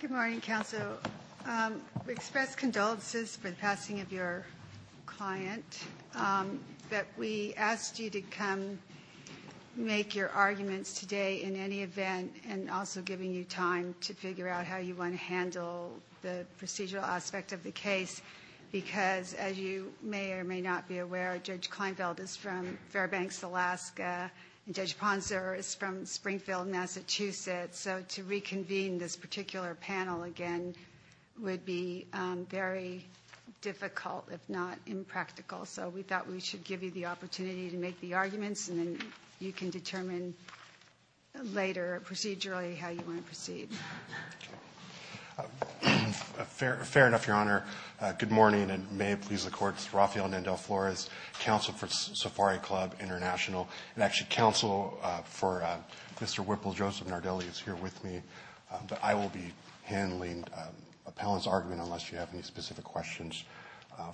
Good morning, counsel. We express condolences for the passing of your client, but we asked you to come make your arguments today in any event and also giving you time to figure out how you want to handle the procedural aspect of the case because, as you may or may not be aware, Judge Kleinfeld is from Fairbanks, Alaska, and Judge Ponser is from Springfield, Massachusetts. So to reconvene this particular panel again would be very difficult, if not impractical. So we thought we should give you the opportunity to make the arguments, and then you can determine later procedurally how you want to proceed. Fair enough, Your Honor. Good morning, and may it please the Court. This is Rafael Nandel-Flores, counsel for Safari Club International. And actually counsel for Mr. Whipple, Joseph Nardelli, is here with me, but I will be handling appellant's argument unless you have any specific questions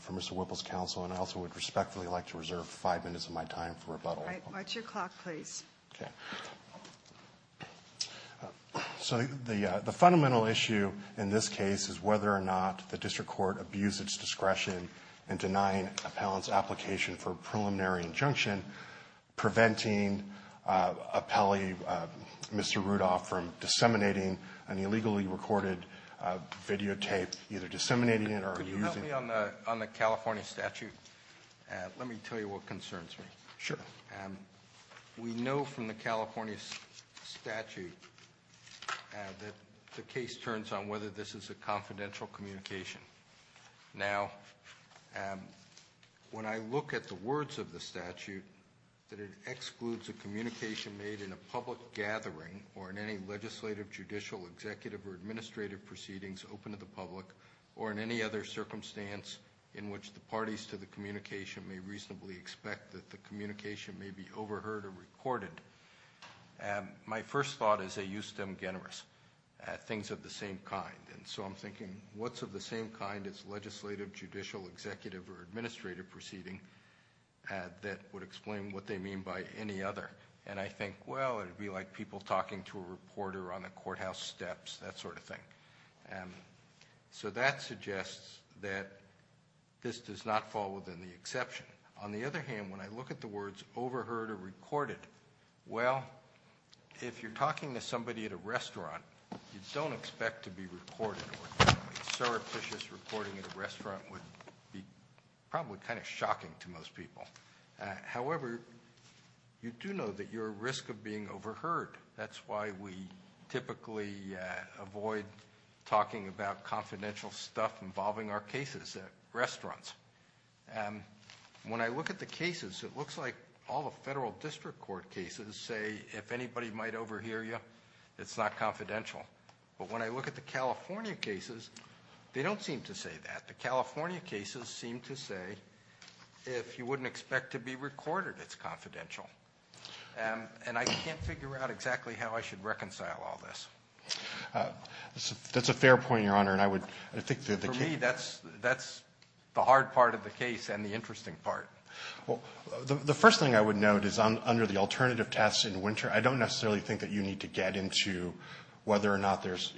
for Mr. Whipple's counsel. And I also would respectfully like to reserve five minutes of my time for rebuttal. All right. Watch your clock, please. Okay. So the fundamental issue in this case is whether or not the district court abused its discretion in denying appellant's application for a preliminary injunction, preventing Mr. Rudolph from disseminating an illegally recorded videotape, either disseminating it or using it. Could you help me on the California statute? Let me tell you what concerns me. Sure. We know from the California statute that the case turns on whether this is a confidential communication. Now, when I look at the words of the statute, that it excludes a communication made in a public gathering or in any legislative, judicial, executive, or administrative proceedings open to the public, or in any other circumstance in which the parties to the communication may reasonably expect that the communication may be overheard or recorded, my first thought is they use stem generis, things of the same kind. And so I'm thinking, what's of the same kind as legislative, judicial, executive, or administrative proceeding that would explain what they mean by any other? And I think, well, it would be like people talking to a reporter on the courthouse steps, that sort of thing. So that suggests that this does not fall within the exception. On the other hand, when I look at the words overheard or recorded, well, if you're talking to somebody at a restaurant, you don't expect to be recorded, or a surreptitious recording at a restaurant would be probably kind of shocking to most people. However, you do know that you're at risk of being overheard. That's why we typically avoid talking about confidential stuff involving our cases at restaurants. When I look at the cases, it looks like all the federal district court cases say, if anybody might overhear you, it's not confidential. But when I look at the California cases, they don't seem to say that. The California cases seem to say, if you wouldn't expect to be recorded, it's confidential. And I can't figure out exactly how I should reconcile all this. That's a fair point, Your Honor, and I would think that the case- The hard part of the case and the interesting part. Well, the first thing I would note is under the alternative test in winter, I don't necessarily think that you need to get into whether or not there's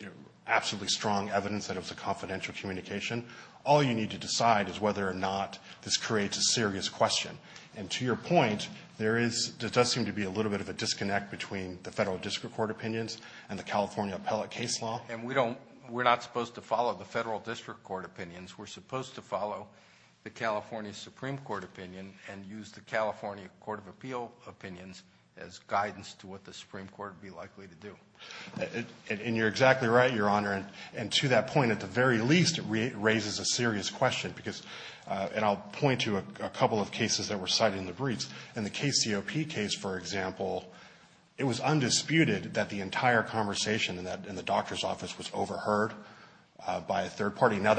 absolutely strong evidence that it was a confidential communication. All you need to decide is whether or not this creates a serious question. And to your point, there does seem to be a little bit of a disconnect between the federal district court opinions and the California appellate case law. And we're not supposed to follow the federal district court opinions. We're supposed to follow the California Supreme Court opinion and use the California Court of Appeal opinions as guidance to what the Supreme Court would be likely to do. And you're exactly right, Your Honor. And to that point, at the very least, it raises a serious question. And I'll point to a couple of cases that were cited in the briefs. In the KCOP case, for example, it was undisputed that the entire conversation in the doctor's office was overheard by a third party. Now,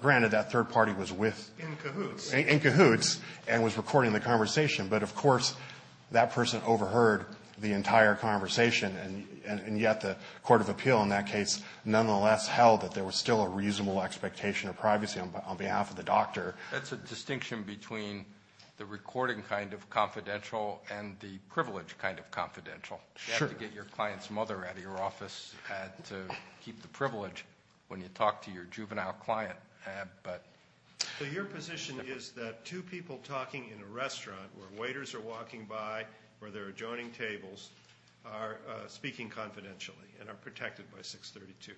granted, that third party was with- In cahoots. In cahoots and was recording the conversation. But, of course, that person overheard the entire conversation, and yet the Court of Appeal in that case nonetheless held that there was still a reasonable expectation of privacy on behalf of the doctor. That's a distinction between the recording kind of confidential and the privilege kind of confidential. You have to get your client's mother out of your office to keep the privilege when you talk to your juvenile client. So your position is that two people talking in a restaurant where waiters are walking by, where there are adjoining tables, are speaking confidentially and are protected by 632?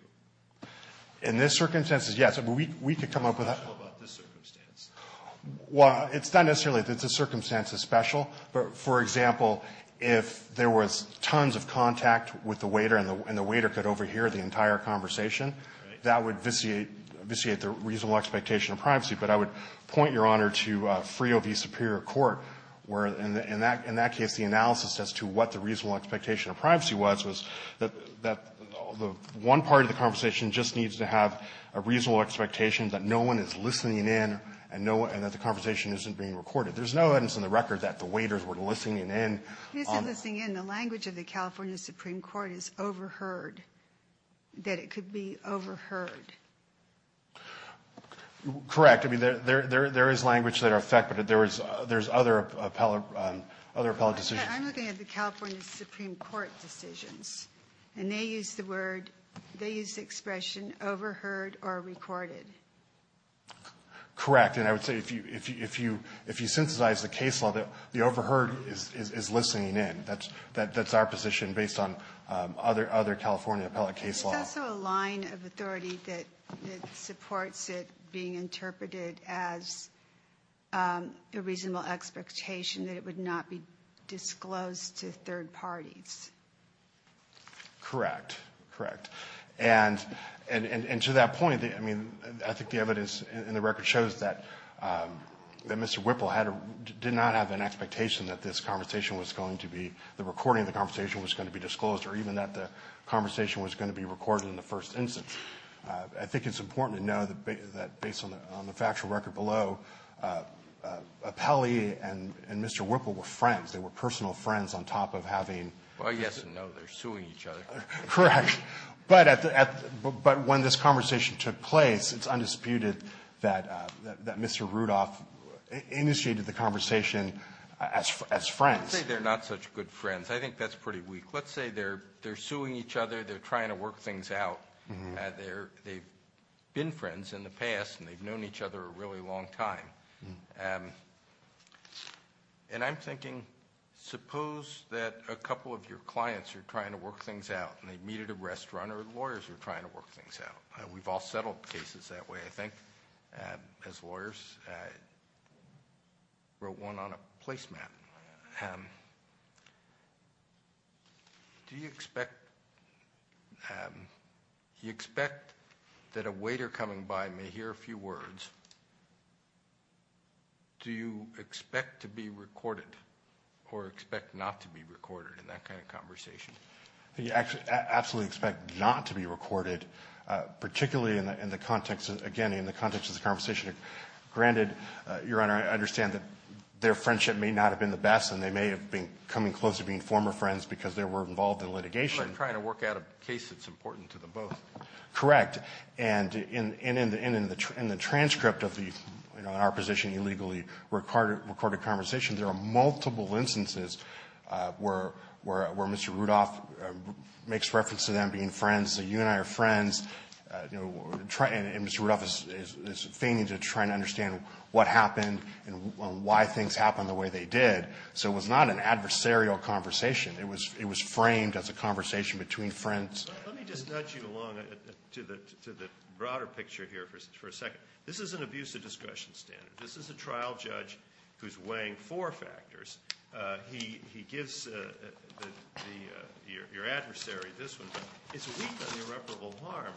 In this circumstance, yes. We could come up with a- What's special about this circumstance? Well, it's not necessarily that the circumstance is special. But, for example, if there was tons of contact with the waiter and the waiter could overhear the entire conversation, that would vitiate the reasonable expectation of privacy. But I would point, Your Honor, to Frio v. Superior Court where, in that case, the analysis as to what the reasonable expectation of privacy was, was that one part of the conversation just needs to have a reasonable expectation that no one is listening in and that the conversation isn't being recorded. There's no evidence in the record that the waiters were listening in. He isn't listening in. The language of the California Supreme Court is overheard, that it could be overheard. Correct. I mean, there is language that are affected. There's other appellate decisions. I'm looking at the California Supreme Court decisions. And they use the expression overheard or recorded. Correct. And I would say if you synthesize the case law, the overheard is listening in. That's our position based on other California appellate case law. There's also a line of authority that supports it being interpreted as a reasonable expectation that it would not be disclosed to third parties. Correct. Correct. And to that point, I mean, I think the evidence in the record shows that Mr. Whipple did not have an expectation that this conversation was going to be, the recording of the conversation was going to be disclosed or even that the conversation was going to be recorded in the first instance. I think it's important to know that based on the factual record below, Appelli and Mr. Whipple were friends. They were personal friends on top of having ---- Well, yes and no. They're suing each other. Correct. But when this conversation took place, it's undisputed that Mr. Rudolph initiated the conversation as friends. Let's say they're not such good friends. I think that's pretty weak. Let's say they're suing each other. They're trying to work things out. They've been friends in the past, and they've known each other a really long time. And I'm thinking, suppose that a couple of your clients are trying to work things out, and they meet at a restaurant, or lawyers are trying to work things out. We've all settled cases that way, I think, as lawyers. I wrote one on a placemat. Do you expect that a waiter coming by may hear a few words? Do you expect to be recorded or expect not to be recorded in that kind of conversation? I absolutely expect not to be recorded, particularly, again, in the context of the conversation. Granted, Your Honor, I understand that their friendship may not have been the best, and they may have been coming close to being former friends because they were involved in litigation. It's like trying to work out a case that's important to them both. Correct. And in the transcript of the, in our position, illegally recorded conversation, there are multiple instances where Mr. Rudolph makes reference to them being friends, so you and I are friends, and Mr. Rudolph is feigning to try and understand what happened and why things happened the way they did. So it was not an adversarial conversation. It was framed as a conversation between friends. Let me just nudge you along to the broader picture here for a second. This is an abusive discretion standard. This is a trial judge who's weighing four factors. He gives your adversary this one. It's weak on irreparable harm,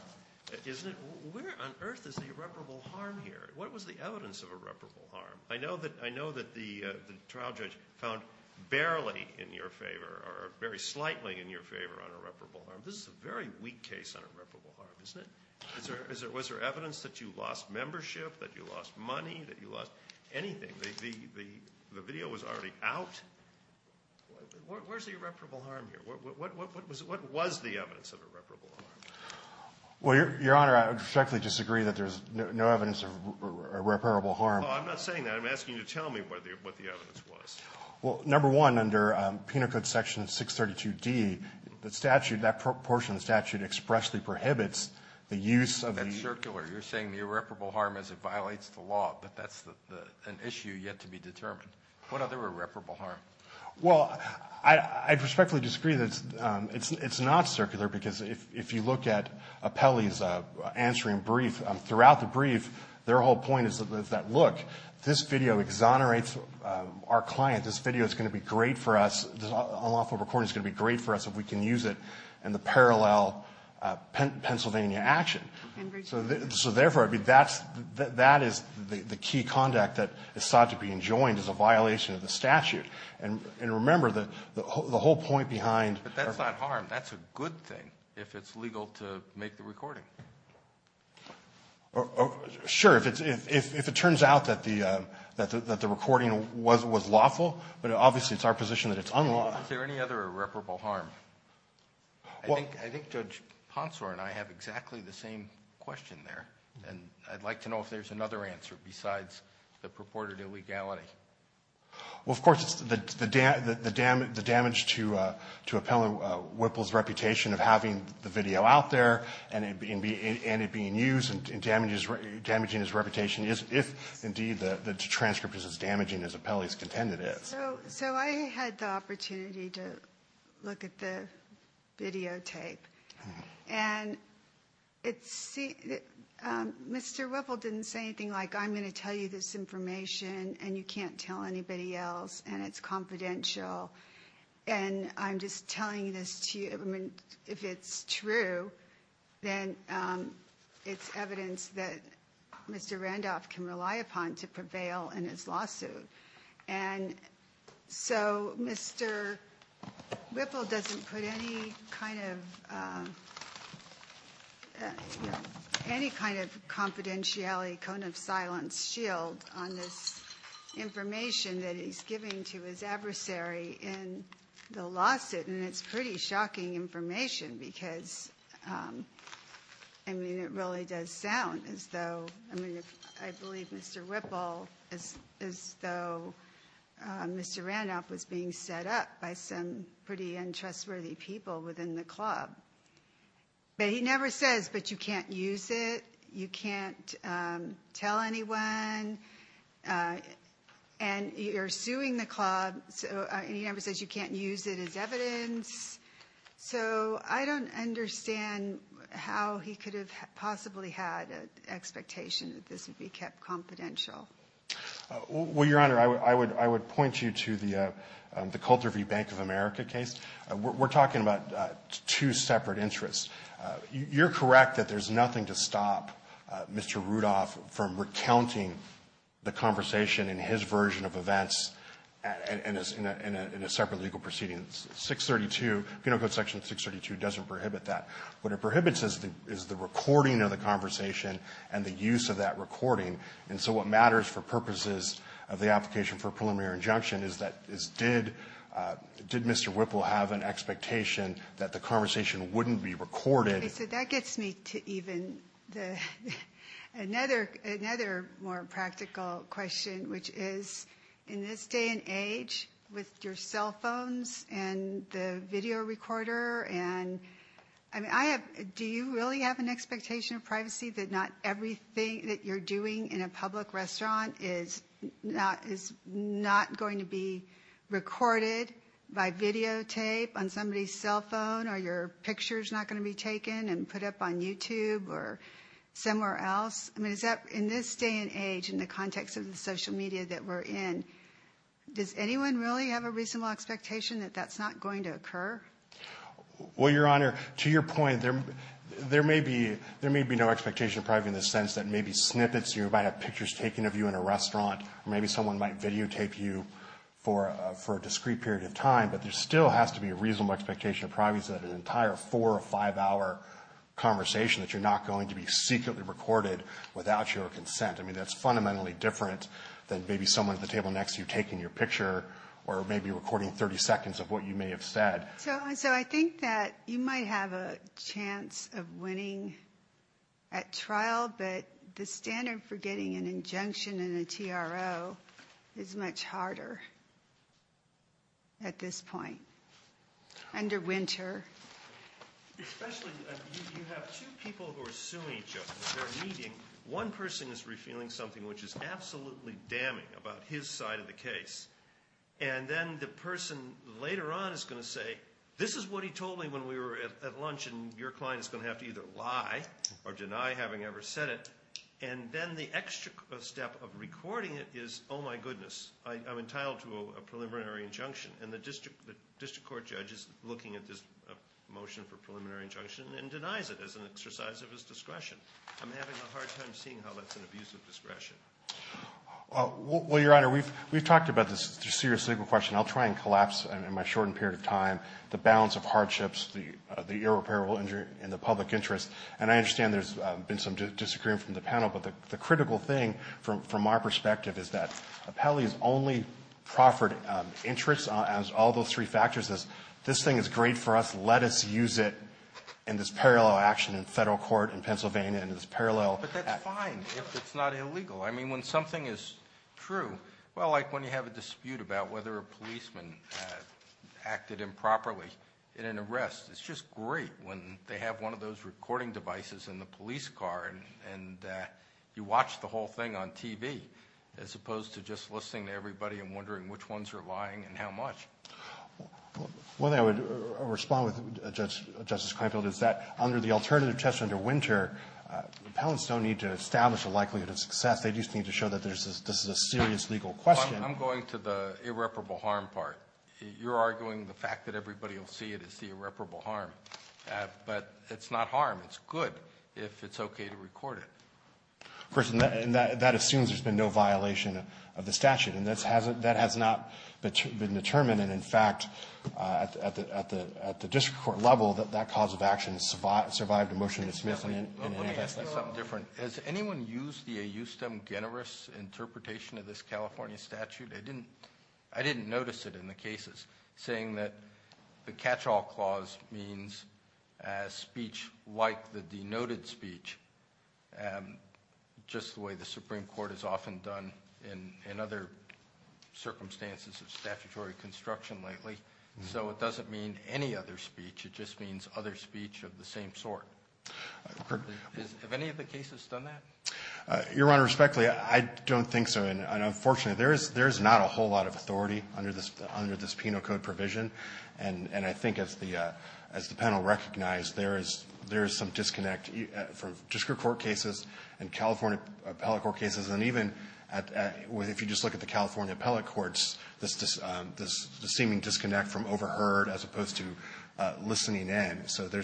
isn't it? Where on earth is the irreparable harm here? What was the evidence of irreparable harm? I know that the trial judge found barely in your favor or very slightly in your favor on irreparable harm. This is a very weak case on irreparable harm, isn't it? Was there evidence that you lost membership, that you lost money, that you lost anything? The video was already out. Where's the irreparable harm here? What was the evidence of irreparable harm? Well, Your Honor, I respectfully disagree that there's no evidence of irreparable harm. Oh, I'm not saying that. I'm asking you to tell me what the evidence was. Well, number one, under Penal Code Section 632D, the statute, that portion of the statute expressly prohibits the use of the ---- That's circular. You're saying the irreparable harm as it violates the law, but that's an issue yet to be determined. What other irreparable harm? Well, I respectfully disagree that it's not circular because if you look at Apelli's answering brief, throughout the brief their whole point is that, look, this video exonerates our client. This video is going to be great for us. This unlawful recording is going to be great for us if we can use it in the parallel Pennsylvania action. So therefore, I mean, that's the key conduct that is sought to be enjoined is a violation of the statute. And remember, the whole point behind ---- But that's not harm. That's a good thing if it's legal to make the recording. Sure. If it turns out that the recording was lawful, but obviously it's our position that it's unlawful. Is there any other irreparable harm? I think Judge Ponsor and I have exactly the same question there. And I'd like to know if there's another answer besides the purported illegality. Well, of course, the damage to Apelli Whipple's reputation of having the video out there and it being used and damaging his reputation if, indeed, the transcript is as damaging as Apelli's contended is. So I had the opportunity to look at the videotape. And Mr. Whipple didn't say anything like, I'm going to tell you this information and you can't tell anybody else and it's confidential. And I'm just telling this to you. I mean, if it's true, then it's evidence that Mr. Randolph can rely upon to prevail in his lawsuit. And so Mr. Whipple doesn't put any kind of confidentiality cone of silence shield on this information that he's giving to his adversary in the lawsuit. And it's pretty shocking information because, I mean, it really does sound as though, I mean, I believe Mr. Whipple is as though Mr. Randolph was being set up by some pretty untrustworthy people within the club. But he never says, but you can't use it. You can't tell anyone. And you're suing the club. He never says you can't use it as evidence. So I don't understand how he could have possibly had an expectation that this would be kept confidential. Well, Your Honor, I would point you to the Coulter v. Bank of America case. We're talking about two separate interests. You're correct that there's nothing to stop Mr. Rudolph from recounting the conversation in his version of events in a separate legal proceeding. 632, Penal Code Section 632 doesn't prohibit that. What it prohibits is the recording of the conversation and the use of that recording. And so what matters for purposes of the application for preliminary injunction is did Mr. Whipple have an expectation that the conversation wouldn't be recorded? So that gets me to even another more practical question, which is in this day and age with your cell phones and the video recorder. And I mean, I have. Do you really have an expectation of privacy that not everything that you're doing in a public restaurant is not is not going to be recorded by videotape on somebody's cell phone? Are your pictures not going to be taken and put up on YouTube or somewhere else? I mean, is that in this day and age in the context of the social media that we're in? Does anyone really have a reasonable expectation that that's not going to occur? Well, Your Honor, to your point, there may be there may be no expectation of privacy in the sense that maybe snippets, you might have pictures taken of you in a restaurant, maybe someone might videotape you for for a discrete period of time. But there still has to be a reasonable expectation of privacy that an entire four or five hour conversation that you're not going to be secretly recorded without your consent. I mean, that's fundamentally different than maybe someone at the table next to you taking your picture or maybe recording 30 seconds of what you may have said. So I think that you might have a chance of winning at trial. But the standard for getting an injunction in a T.R.O. is much harder. At this point. Under winter. You have two people who are suing each other. They're meeting. One person is revealing something which is absolutely damning about his side of the case. And then the person later on is going to say, this is what he told me when we were at lunch. And your client is going to have to either lie or deny having ever said it. And then the extra step of recording it is, oh, my goodness, I'm entitled to a preliminary injunction. And the district court judge is looking at this motion for preliminary injunction and denies it as an exercise of his discretion. I'm having a hard time seeing how that's an abuse of discretion. Well, Your Honor, we've talked about this. It's a serious legal question. I'll try and collapse in my shortened period of time the bounds of hardships, the irreparable injury in the public interest. And I understand there's been some disagreeing from the panel. But the critical thing from our perspective is that Appellee's only proffered interest as all those three factors is this thing is great for us. Let us use it in this parallel action in Federal court, in Pennsylvania, in this parallel. But that's fine if it's not illegal. I mean, when something is true, well, like when you have a dispute about whether a policeman acted improperly in an arrest, it's just great when they have one of those recording devices in the police car and you watch the whole thing on TV, as opposed to just listening to everybody and wondering which ones are lying and how much. One thing I would respond with, Justice Kleinfeld, is that under the alternative test under Winter, appellants don't need to establish a likelihood of success. They just need to show that this is a serious legal question. I'm going to the irreparable harm part. You're arguing the fact that everybody will see it as the irreparable harm. But it's not harm. It's good if it's okay to record it. Of course, and that assumes there's been no violation of the statute. And that has not been determined. And, in fact, at the district court level, that cause of action survived a motion to dismiss it. Let me ask you something different. Has anyone used the AU-STEM generous interpretation of this California statute? I didn't notice it in the cases, saying that the catch-all clause means speech like the denoted speech, just the way the Supreme Court has often done in other circumstances of statutory construction lately. So it doesn't mean any other speech. It just means other speech of the same sort. Have any of the cases done that? Your Honor, respectfully, I don't think so. And, unfortunately, there is not a whole lot of authority under this Penal Code provision. And I think as the panel recognized, there is some disconnect from district court cases and California appellate court cases. And even if you just look at the California appellate courts, there's a seeming disconnect from overheard as opposed to listening in. So the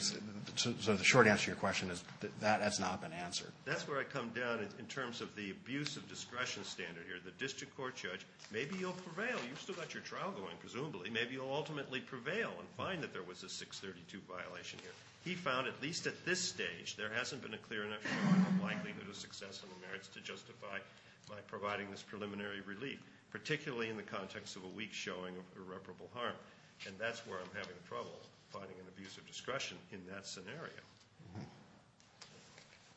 short answer to your question is that that has not been answered. That's where I come down in terms of the abuse of discretion standard here. The district court judge, maybe you'll prevail. You've still got your trial going, presumably. Maybe you'll ultimately prevail and find that there was a 632 violation here. He found, at least at this stage, there hasn't been a clear enough likelihood of success in the merits to justify by providing this preliminary relief, particularly in the context of a weak showing of irreparable harm. And that's where I'm having trouble, finding an abuse of discretion in that scenario.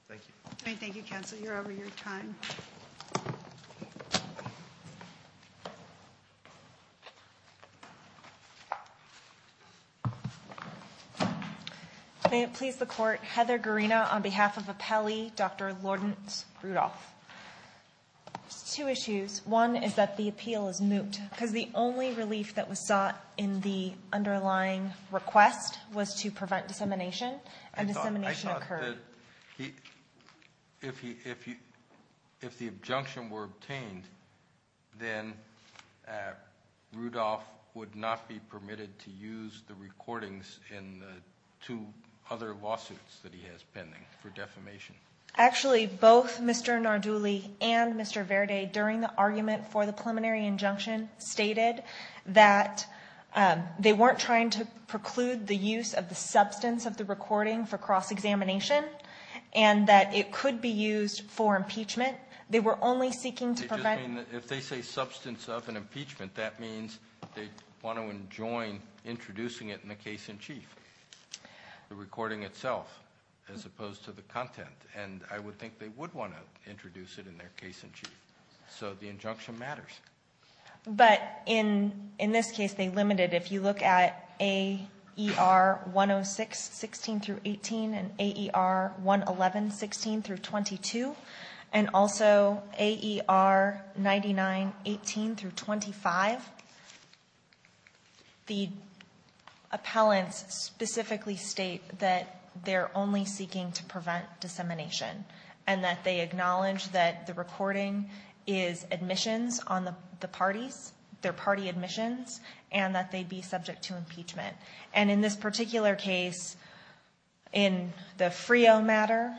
Thank you. All right, thank you, counsel. You're over your time. May it please the court, Heather Garina on behalf of Appellee Dr. Lourdes Rudolph. There's two issues. One is that the appeal is moot because the only relief that was sought in the underlying request was to prevent dissemination, and dissemination occurred. If the injunction were obtained, then Rudolph would not be permitted to use the recordings in the two other lawsuits that he has pending for defamation. Actually, both Mr. Narduli and Mr. Verde, during the argument for the preliminary injunction, stated that they weren't trying to preclude the use of the substance of the recording for cross-examination, and that it could be used for impeachment. They were only seeking to prevent- If they say substance of an impeachment, that means they want to enjoin introducing it in the case in chief, the recording itself, as opposed to the content. And I would think they would want to introduce it in their case in chief. So the injunction matters. But in this case, they limited it. If you look at AER 106-16-18 and AER 111-16-22, and also AER 99-18-25, the appellants specifically state that they're only seeking to prevent dissemination, and that they acknowledge that the recording is admissions on the parties, their party admissions, and that they'd be subject to impeachment. And in this particular case, in the FRIO matter,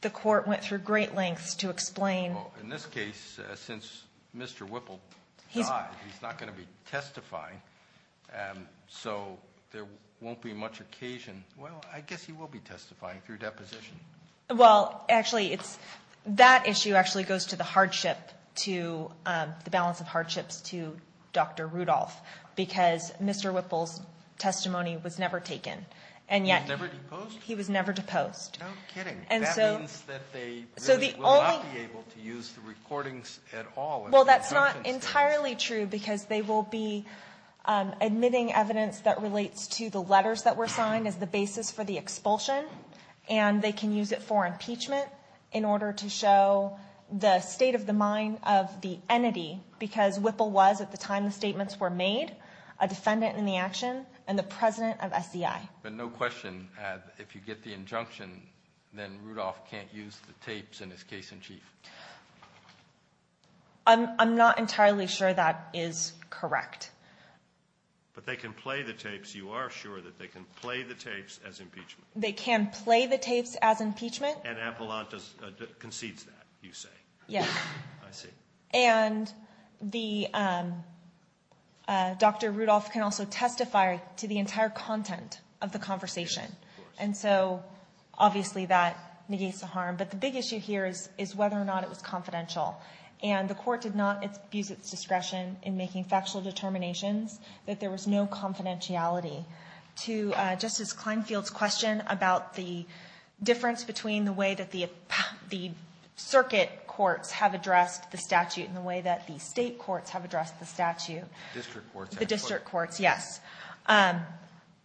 the court went through great lengths to explain- Well, in this case, since Mr. Whipple died, he's not going to be testifying, so there won't be much occasion- Well, I guess he will be testifying through deposition. Well, actually, that issue actually goes to the balance of hardships to Dr. Rudolph because Mr. Whipple's testimony was never taken. He was never deposed? He was never deposed. No kidding. That means that they really will not be able to use the recordings at all. Well, that's not entirely true because they will be admitting evidence that relates to the letters that were signed as the basis for the expulsion, and they can use it for impeachment in order to show the state of the mind of the entity because Whipple was, at the time the statements were made, a defendant in the action and the president of SEI. But no question, if you get the injunction, then Rudolph can't use the tapes in his case in chief. I'm not entirely sure that is correct. But they can play the tapes. You are sure that they can play the tapes as impeachment? They can play the tapes as impeachment. And Avalante concedes that, you say? Yes. I see. And Dr. Rudolph can also testify to the entire content of the conversation. Of course. And so, obviously, that negates the harm. But the big issue here is whether or not it was confidential. And the court did not abuse its discretion in making factual determinations that there was no confidentiality. To Justice Klinefield's question about the difference between the way that the circuit courts have addressed the statute and the way that the state courts have addressed the statute. The district courts. The district courts, yes.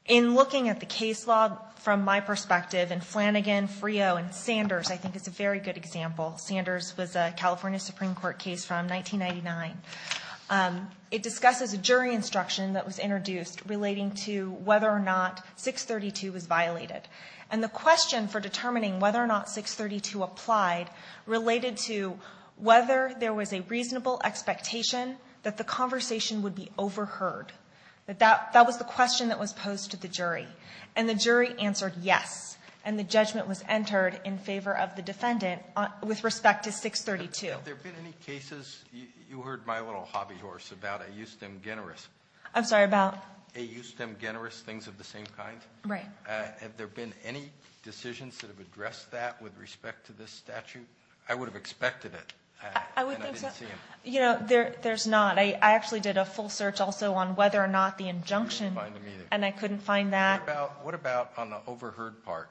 In looking at the case law from my perspective, and Flanagan, Frio, and Sanders, I think, is a very good example. Sanders was a California Supreme Court case from 1999. It discusses a jury instruction that was introduced relating to whether or not 632 was violated. And the question for determining whether or not 632 applied related to whether there was a reasonable expectation that the conversation would be overheard. That was the question that was posed to the jury. And the jury answered yes. And the judgment was entered in favor of the defendant with respect to 632. Alito, have there been any cases? You heard my little hobby horse about a justem generis. I'm sorry, about? A justem generis, things of the same kind. Right. Have there been any decisions that have addressed that with respect to this statute? I would have expected it. I would think so. And I didn't see them. You know, there's not. I actually did a full search also on whether or not the injunction. You couldn't find them either. And I couldn't find that. What about on the overheard part?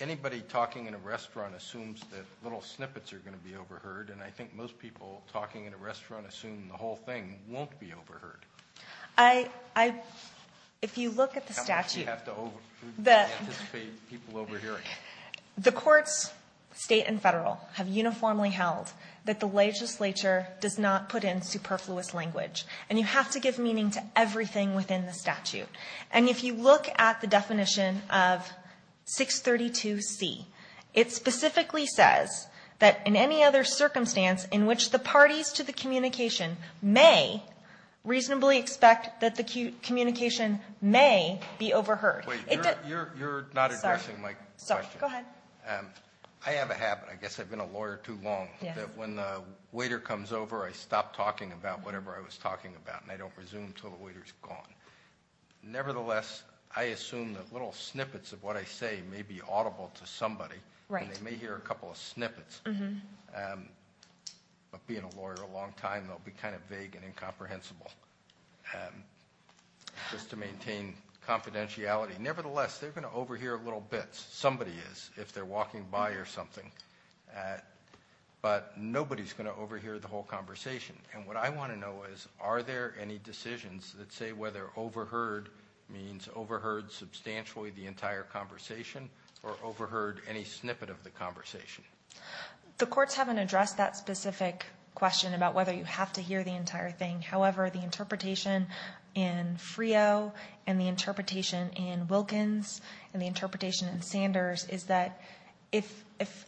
Anybody talking in a restaurant assumes that little snippets are going to be overheard. And I think most people talking in a restaurant assume the whole thing won't be overheard. I, if you look at the statute. How much do you have to anticipate people overhearing? The courts, State and Federal, have uniformly held that the legislature does not put in superfluous language. And you have to give meaning to everything within the statute. And if you look at the definition of 632C, it specifically says that in any other circumstance in which the parties to the communication may reasonably expect that the communication may be overheard. Wait. You're not addressing my question. Sorry. Go ahead. I have a habit. I guess I've been a lawyer too long. Yes. I assume that when the waiter comes over, I stop talking about whatever I was talking about. And I don't resume until the waiter's gone. Nevertheless, I assume that little snippets of what I say may be audible to somebody. Right. And they may hear a couple of snippets. But being a lawyer a long time, they'll be kind of vague and incomprehensible. Just to maintain confidentiality. Nevertheless, they're going to overhear little bits. Somebody is, if they're walking by or something. But nobody's going to overhear the whole conversation. And what I want to know is, are there any decisions that say whether overheard means overheard substantially the entire conversation or overheard any snippet of the conversation? The courts haven't addressed that specific question about whether you have to hear the entire thing. However, the interpretation in Frio and the interpretation in Wilkins and the interpretation in Sanders is that if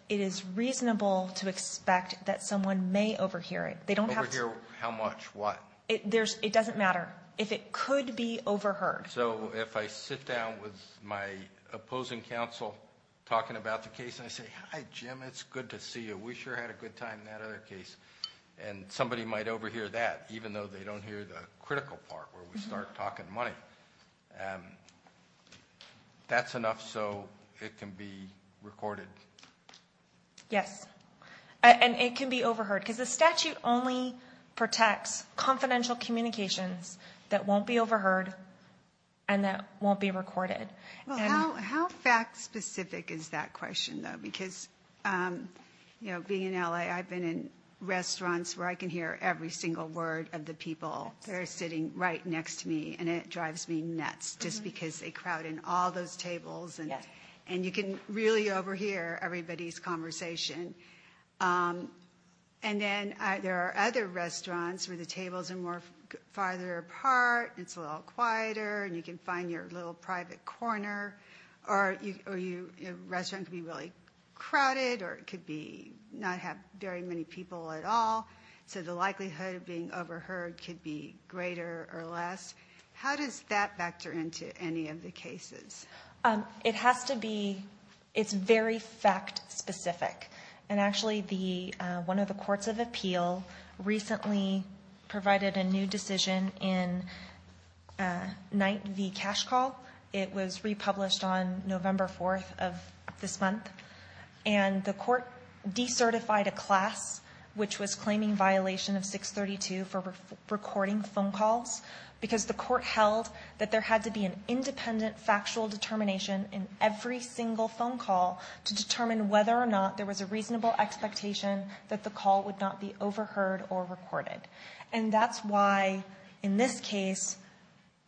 it is reasonable to expect that someone may overhear it, they don't have to. Overhear how much? What? It doesn't matter. If it could be overheard. So if I sit down with my opposing counsel talking about the case and I say, hi, Jim, it's good to see you. We sure had a good time in that other case. And somebody might overhear that, even though they don't hear the critical part where we start talking money. That's enough so it can be recorded. Yes. And it can be overheard. Because the statute only protects confidential communications that won't be overheard and that won't be recorded. How fact specific is that question, though? Because, you know, being in L.A., I've been in restaurants where I can hear every single word of the people. They're sitting right next to me. And it drives me nuts just because they crowd in all those tables. And you can really overhear everybody's conversation. And then there are other restaurants where the tables are more farther apart. It's a little quieter. And you can find your little private corner. Or a restaurant can be really crowded or it could be not have very many people at all. So the likelihood of being overheard could be greater or less. How does that factor into any of the cases? It has to be. It's very fact specific. And actually one of the courts of appeal recently provided a new decision in Night v. Cash Call. It was republished on November 4th of this month. And the court decertified a class which was claiming violation of 632 for recording phone calls. Because the court held that there had to be an independent factual determination in every single phone call to determine whether or not there was a reasonable expectation that the call would not be overheard or recorded. And that's why in this case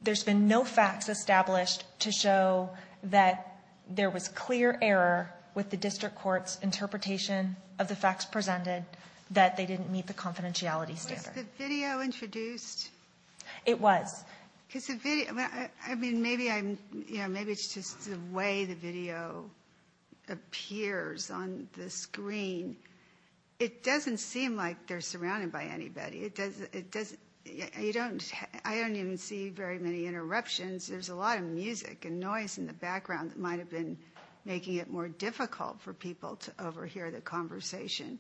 there's been no facts established to show that there was clear error with the district court's interpretation of the facts presented that they didn't meet the confidentiality standard. Was the video introduced? It was. I mean maybe it's just the way the video appears on the screen. It doesn't seem like they're surrounded by anybody. I don't even see very many interruptions. There's a lot of music and noise in the background that might have been making it more difficult for people to overhear the conversation.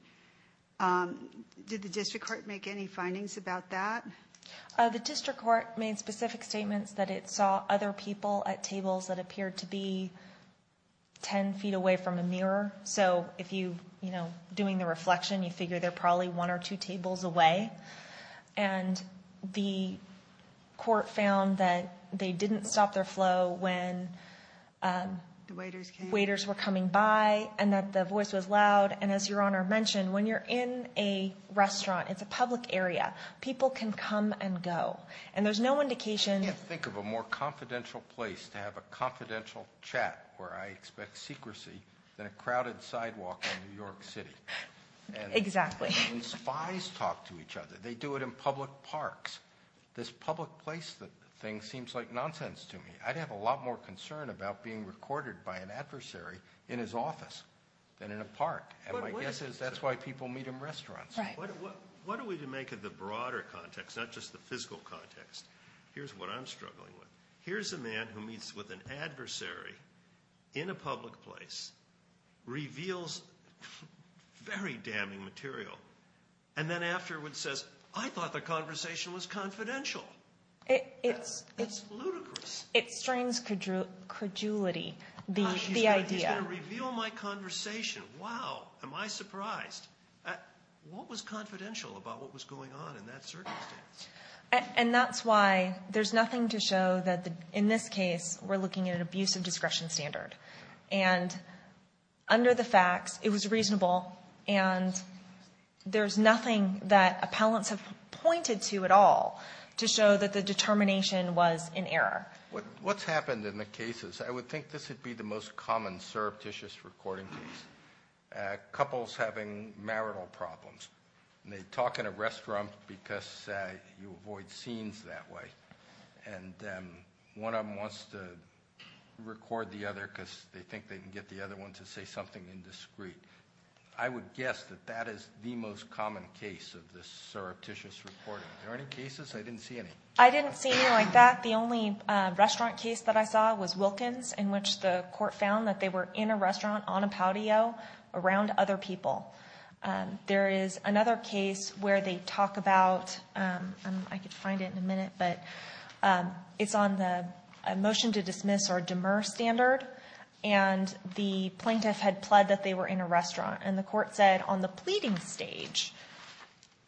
Did the district court make any findings about that? The district court made specific statements that it saw other people at tables that appeared to be 10 feet away from a mirror. So if you, you know, doing the reflection you figure they're probably one or two tables away. And the court found that they didn't stop their flow when waiters were coming by and that the voice was loud. And as your honor mentioned, when you're in a restaurant, it's a public area, people can come and go. And there's no indication. Think of a more confidential place to have a confidential chat where I expect secrecy than a crowded sidewalk in New York City. Exactly. And spies talk to each other. They do it in public parks. This public place thing seems like nonsense to me. I'd have a lot more concern about being recorded by an adversary in his office than in a park. And my guess is that's why people meet in restaurants. What are we to make of the broader context, not just the physical context? Here's what I'm struggling with. Here's a man who meets with an adversary in a public place, reveals very damning material, and then afterwards says, I thought the conversation was confidential. It's ludicrous. It strains credulity, the idea. He's going to reveal my conversation. Wow, am I surprised. What was confidential about what was going on in that circumstance? And that's why there's nothing to show that in this case we're looking at an abusive discretion standard. And under the facts, it was reasonable. And there's nothing that appellants have pointed to at all to show that the determination was in error. What's happened in the cases? I would think this would be the most common surreptitious recording case, couples having marital problems. And they talk in a restaurant because you avoid scenes that way. And one of them wants to record the other because they think they can get the other one to say something indiscreet. I would guess that that is the most common case of this surreptitious recording. Are there any cases? I didn't see any. I didn't see any like that. The only restaurant case that I saw was Wilkins, in which the court found that they were in a restaurant on a patio around other people. There is another case where they talk about, I could find it in a minute, but it's on the motion to dismiss or demur standard. And the plaintiff had pled that they were in a restaurant. And the court said on the pleading stage,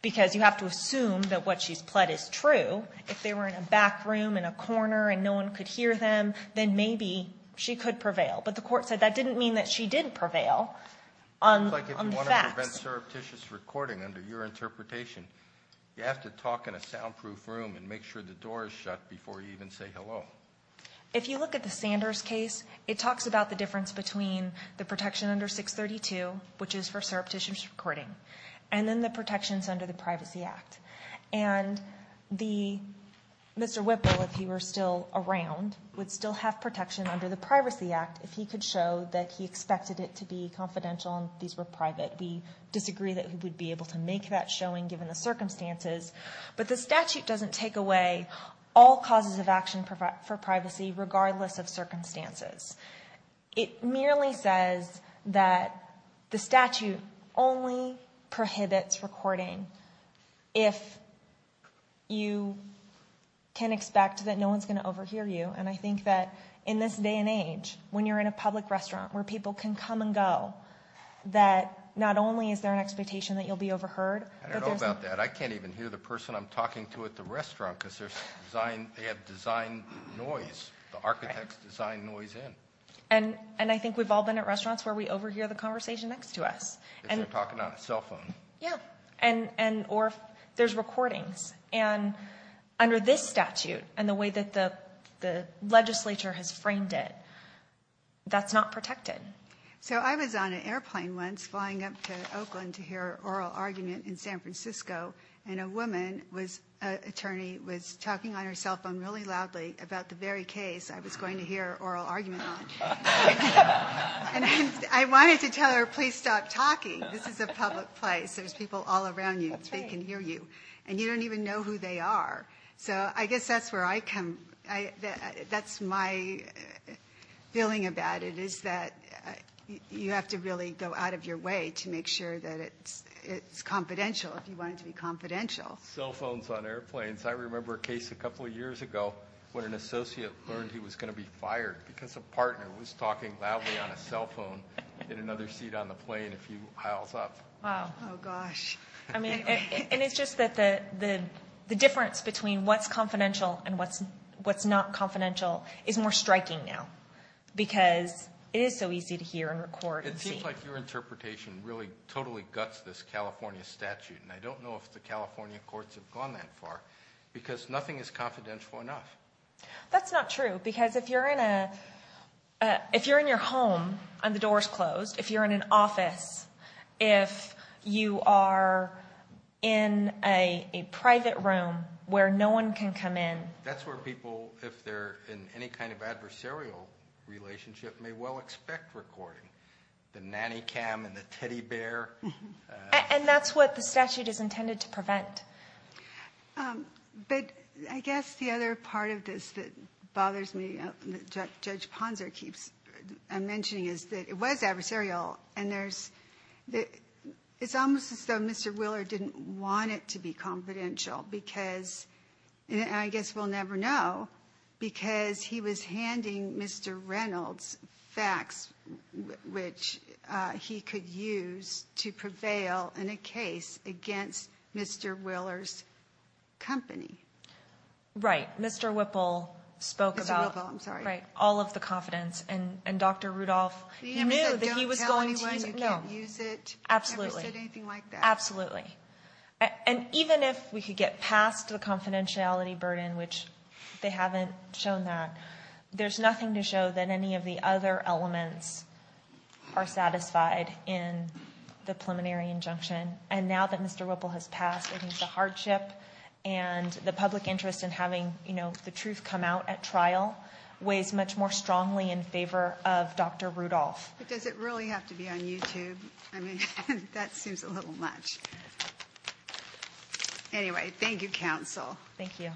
because you have to assume that what she's pled is true, if they were in a back room in a corner and no one could hear them, then maybe she could prevail. But the court said that didn't mean that she did prevail on the facts. It's like if you want to prevent surreptitious recording under your interpretation, you have to talk in a soundproof room and make sure the door is shut before you even say hello. If you look at the Sanders case, it talks about the difference between the protection under 632, which is for surreptitious recording, and then the protections under the Privacy Act. And Mr. Whipple, if he were still around, would still have protection under the Privacy Act if he could show that he expected it to be confidential and these were private. We disagree that he would be able to make that showing given the circumstances. But the statute doesn't take away all causes of action for privacy, regardless of circumstances. It merely says that the statute only prohibits recording if you can expect that no one's going to overhear you. And I think that in this day and age, when you're in a public restaurant where people can come and go, that not only is there an expectation that you'll be overheard- I don't know about that. I can't even hear the person I'm talking to at the restaurant because they have design noise. The architects design noise in. And I think we've all been at restaurants where we overhear the conversation next to us. If they're talking on a cell phone. Yeah. Or if there's recordings. And under this statute, and the way that the legislature has framed it, that's not protected. So I was on an airplane once, flying up to Oakland to hear an oral argument in San Francisco, and a woman, an attorney, was talking on her cell phone really loudly about the very case I was going to hear an oral argument on. And I wanted to tell her, please stop talking. This is a public place. There's people all around you. They can hear you. And you don't even know who they are. So I guess that's where I come- that's my feeling about it, is that you have to really go out of your way to make sure that it's confidential if you want it to be confidential. Cell phones on airplanes. I remember a case a couple years ago when an associate learned he was going to be fired because a partner was talking loudly on a cell phone in another seat on the plane a few aisles up. Wow. Oh, gosh. And it's just that the difference between what's confidential and what's not confidential is more striking now because it is so easy to hear and record and see. It seems like your interpretation really totally guts this California statute, and I don't know if the California courts have gone that far because nothing is confidential enough. That's not true because if you're in a- if you're in your home and the door is closed, if you're in an office, if you are in a private room where no one can come in- That's where people, if they're in any kind of adversarial relationship, may well expect recording. The nanny cam and the teddy bear. And that's what the statute is intended to prevent. But I guess the other part of this that bothers me, that Judge Ponzer keeps mentioning, is that it was adversarial, and there's- it's almost as though Mr. Wheeler didn't want it to be confidential because- to prevail in a case against Mr. Wheeler's company. Right. Mr. Whipple spoke about- Mr. Whipple, I'm sorry. Right. All of the confidence, and Dr. Rudolph knew that he was going to- He never said don't tell anyone you can't use it. No. Absolutely. He never said anything like that. Absolutely. And even if we could get past the confidentiality burden, which they haven't shown that, there's nothing to show that any of the other elements are satisfied in the preliminary injunction. And now that Mr. Whipple has passed, it is a hardship. And the public interest in having, you know, the truth come out at trial weighs much more strongly in favor of Dr. Rudolph. But does it really have to be on YouTube? I mean, that seems a little much. Anyway, thank you, counsel. Thank you.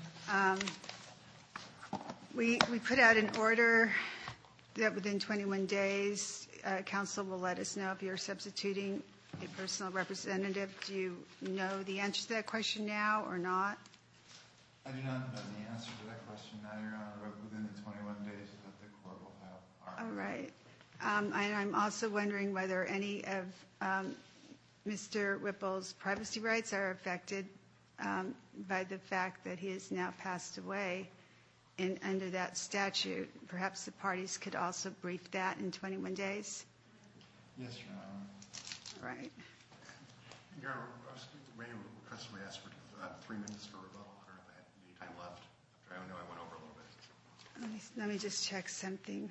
We put out an order that within 21 days, counsel will let us know if you're substituting a personal representative. Do you know the answer to that question now or not? I do not know the answer to that question now, Your Honor, but within the 21 days, the court will have our- All right. And I'm also wondering whether any of Mr. Whipple's privacy rights are affected by the fact that he has now passed away under that statute. Perhaps the parties could also brief that in 21 days? Yes, Your Honor. All right. Your Honor, may I request that we ask for three minutes for rebuttal? Do we have any time left? I know I went over a little bit. Let me just check something.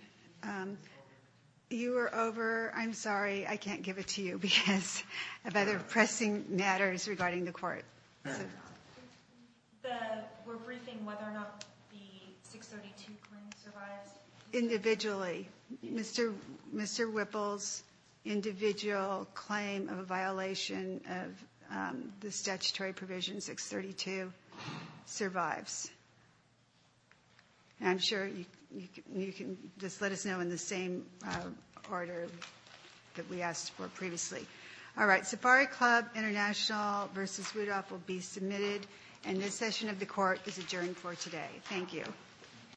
You were over. I'm sorry. I can't give it to you because of other pressing matters regarding the court. We're briefing whether or not the 632 claim survives. Individually, Mr. Whipple's individual claim of a violation of the statutory provision 632 survives. And I'm sure you can just let us know in the same order that we asked for previously. All right. Safari Club International v. Rudolph will be submitted, and this session of the court is adjourned for today. Thank you.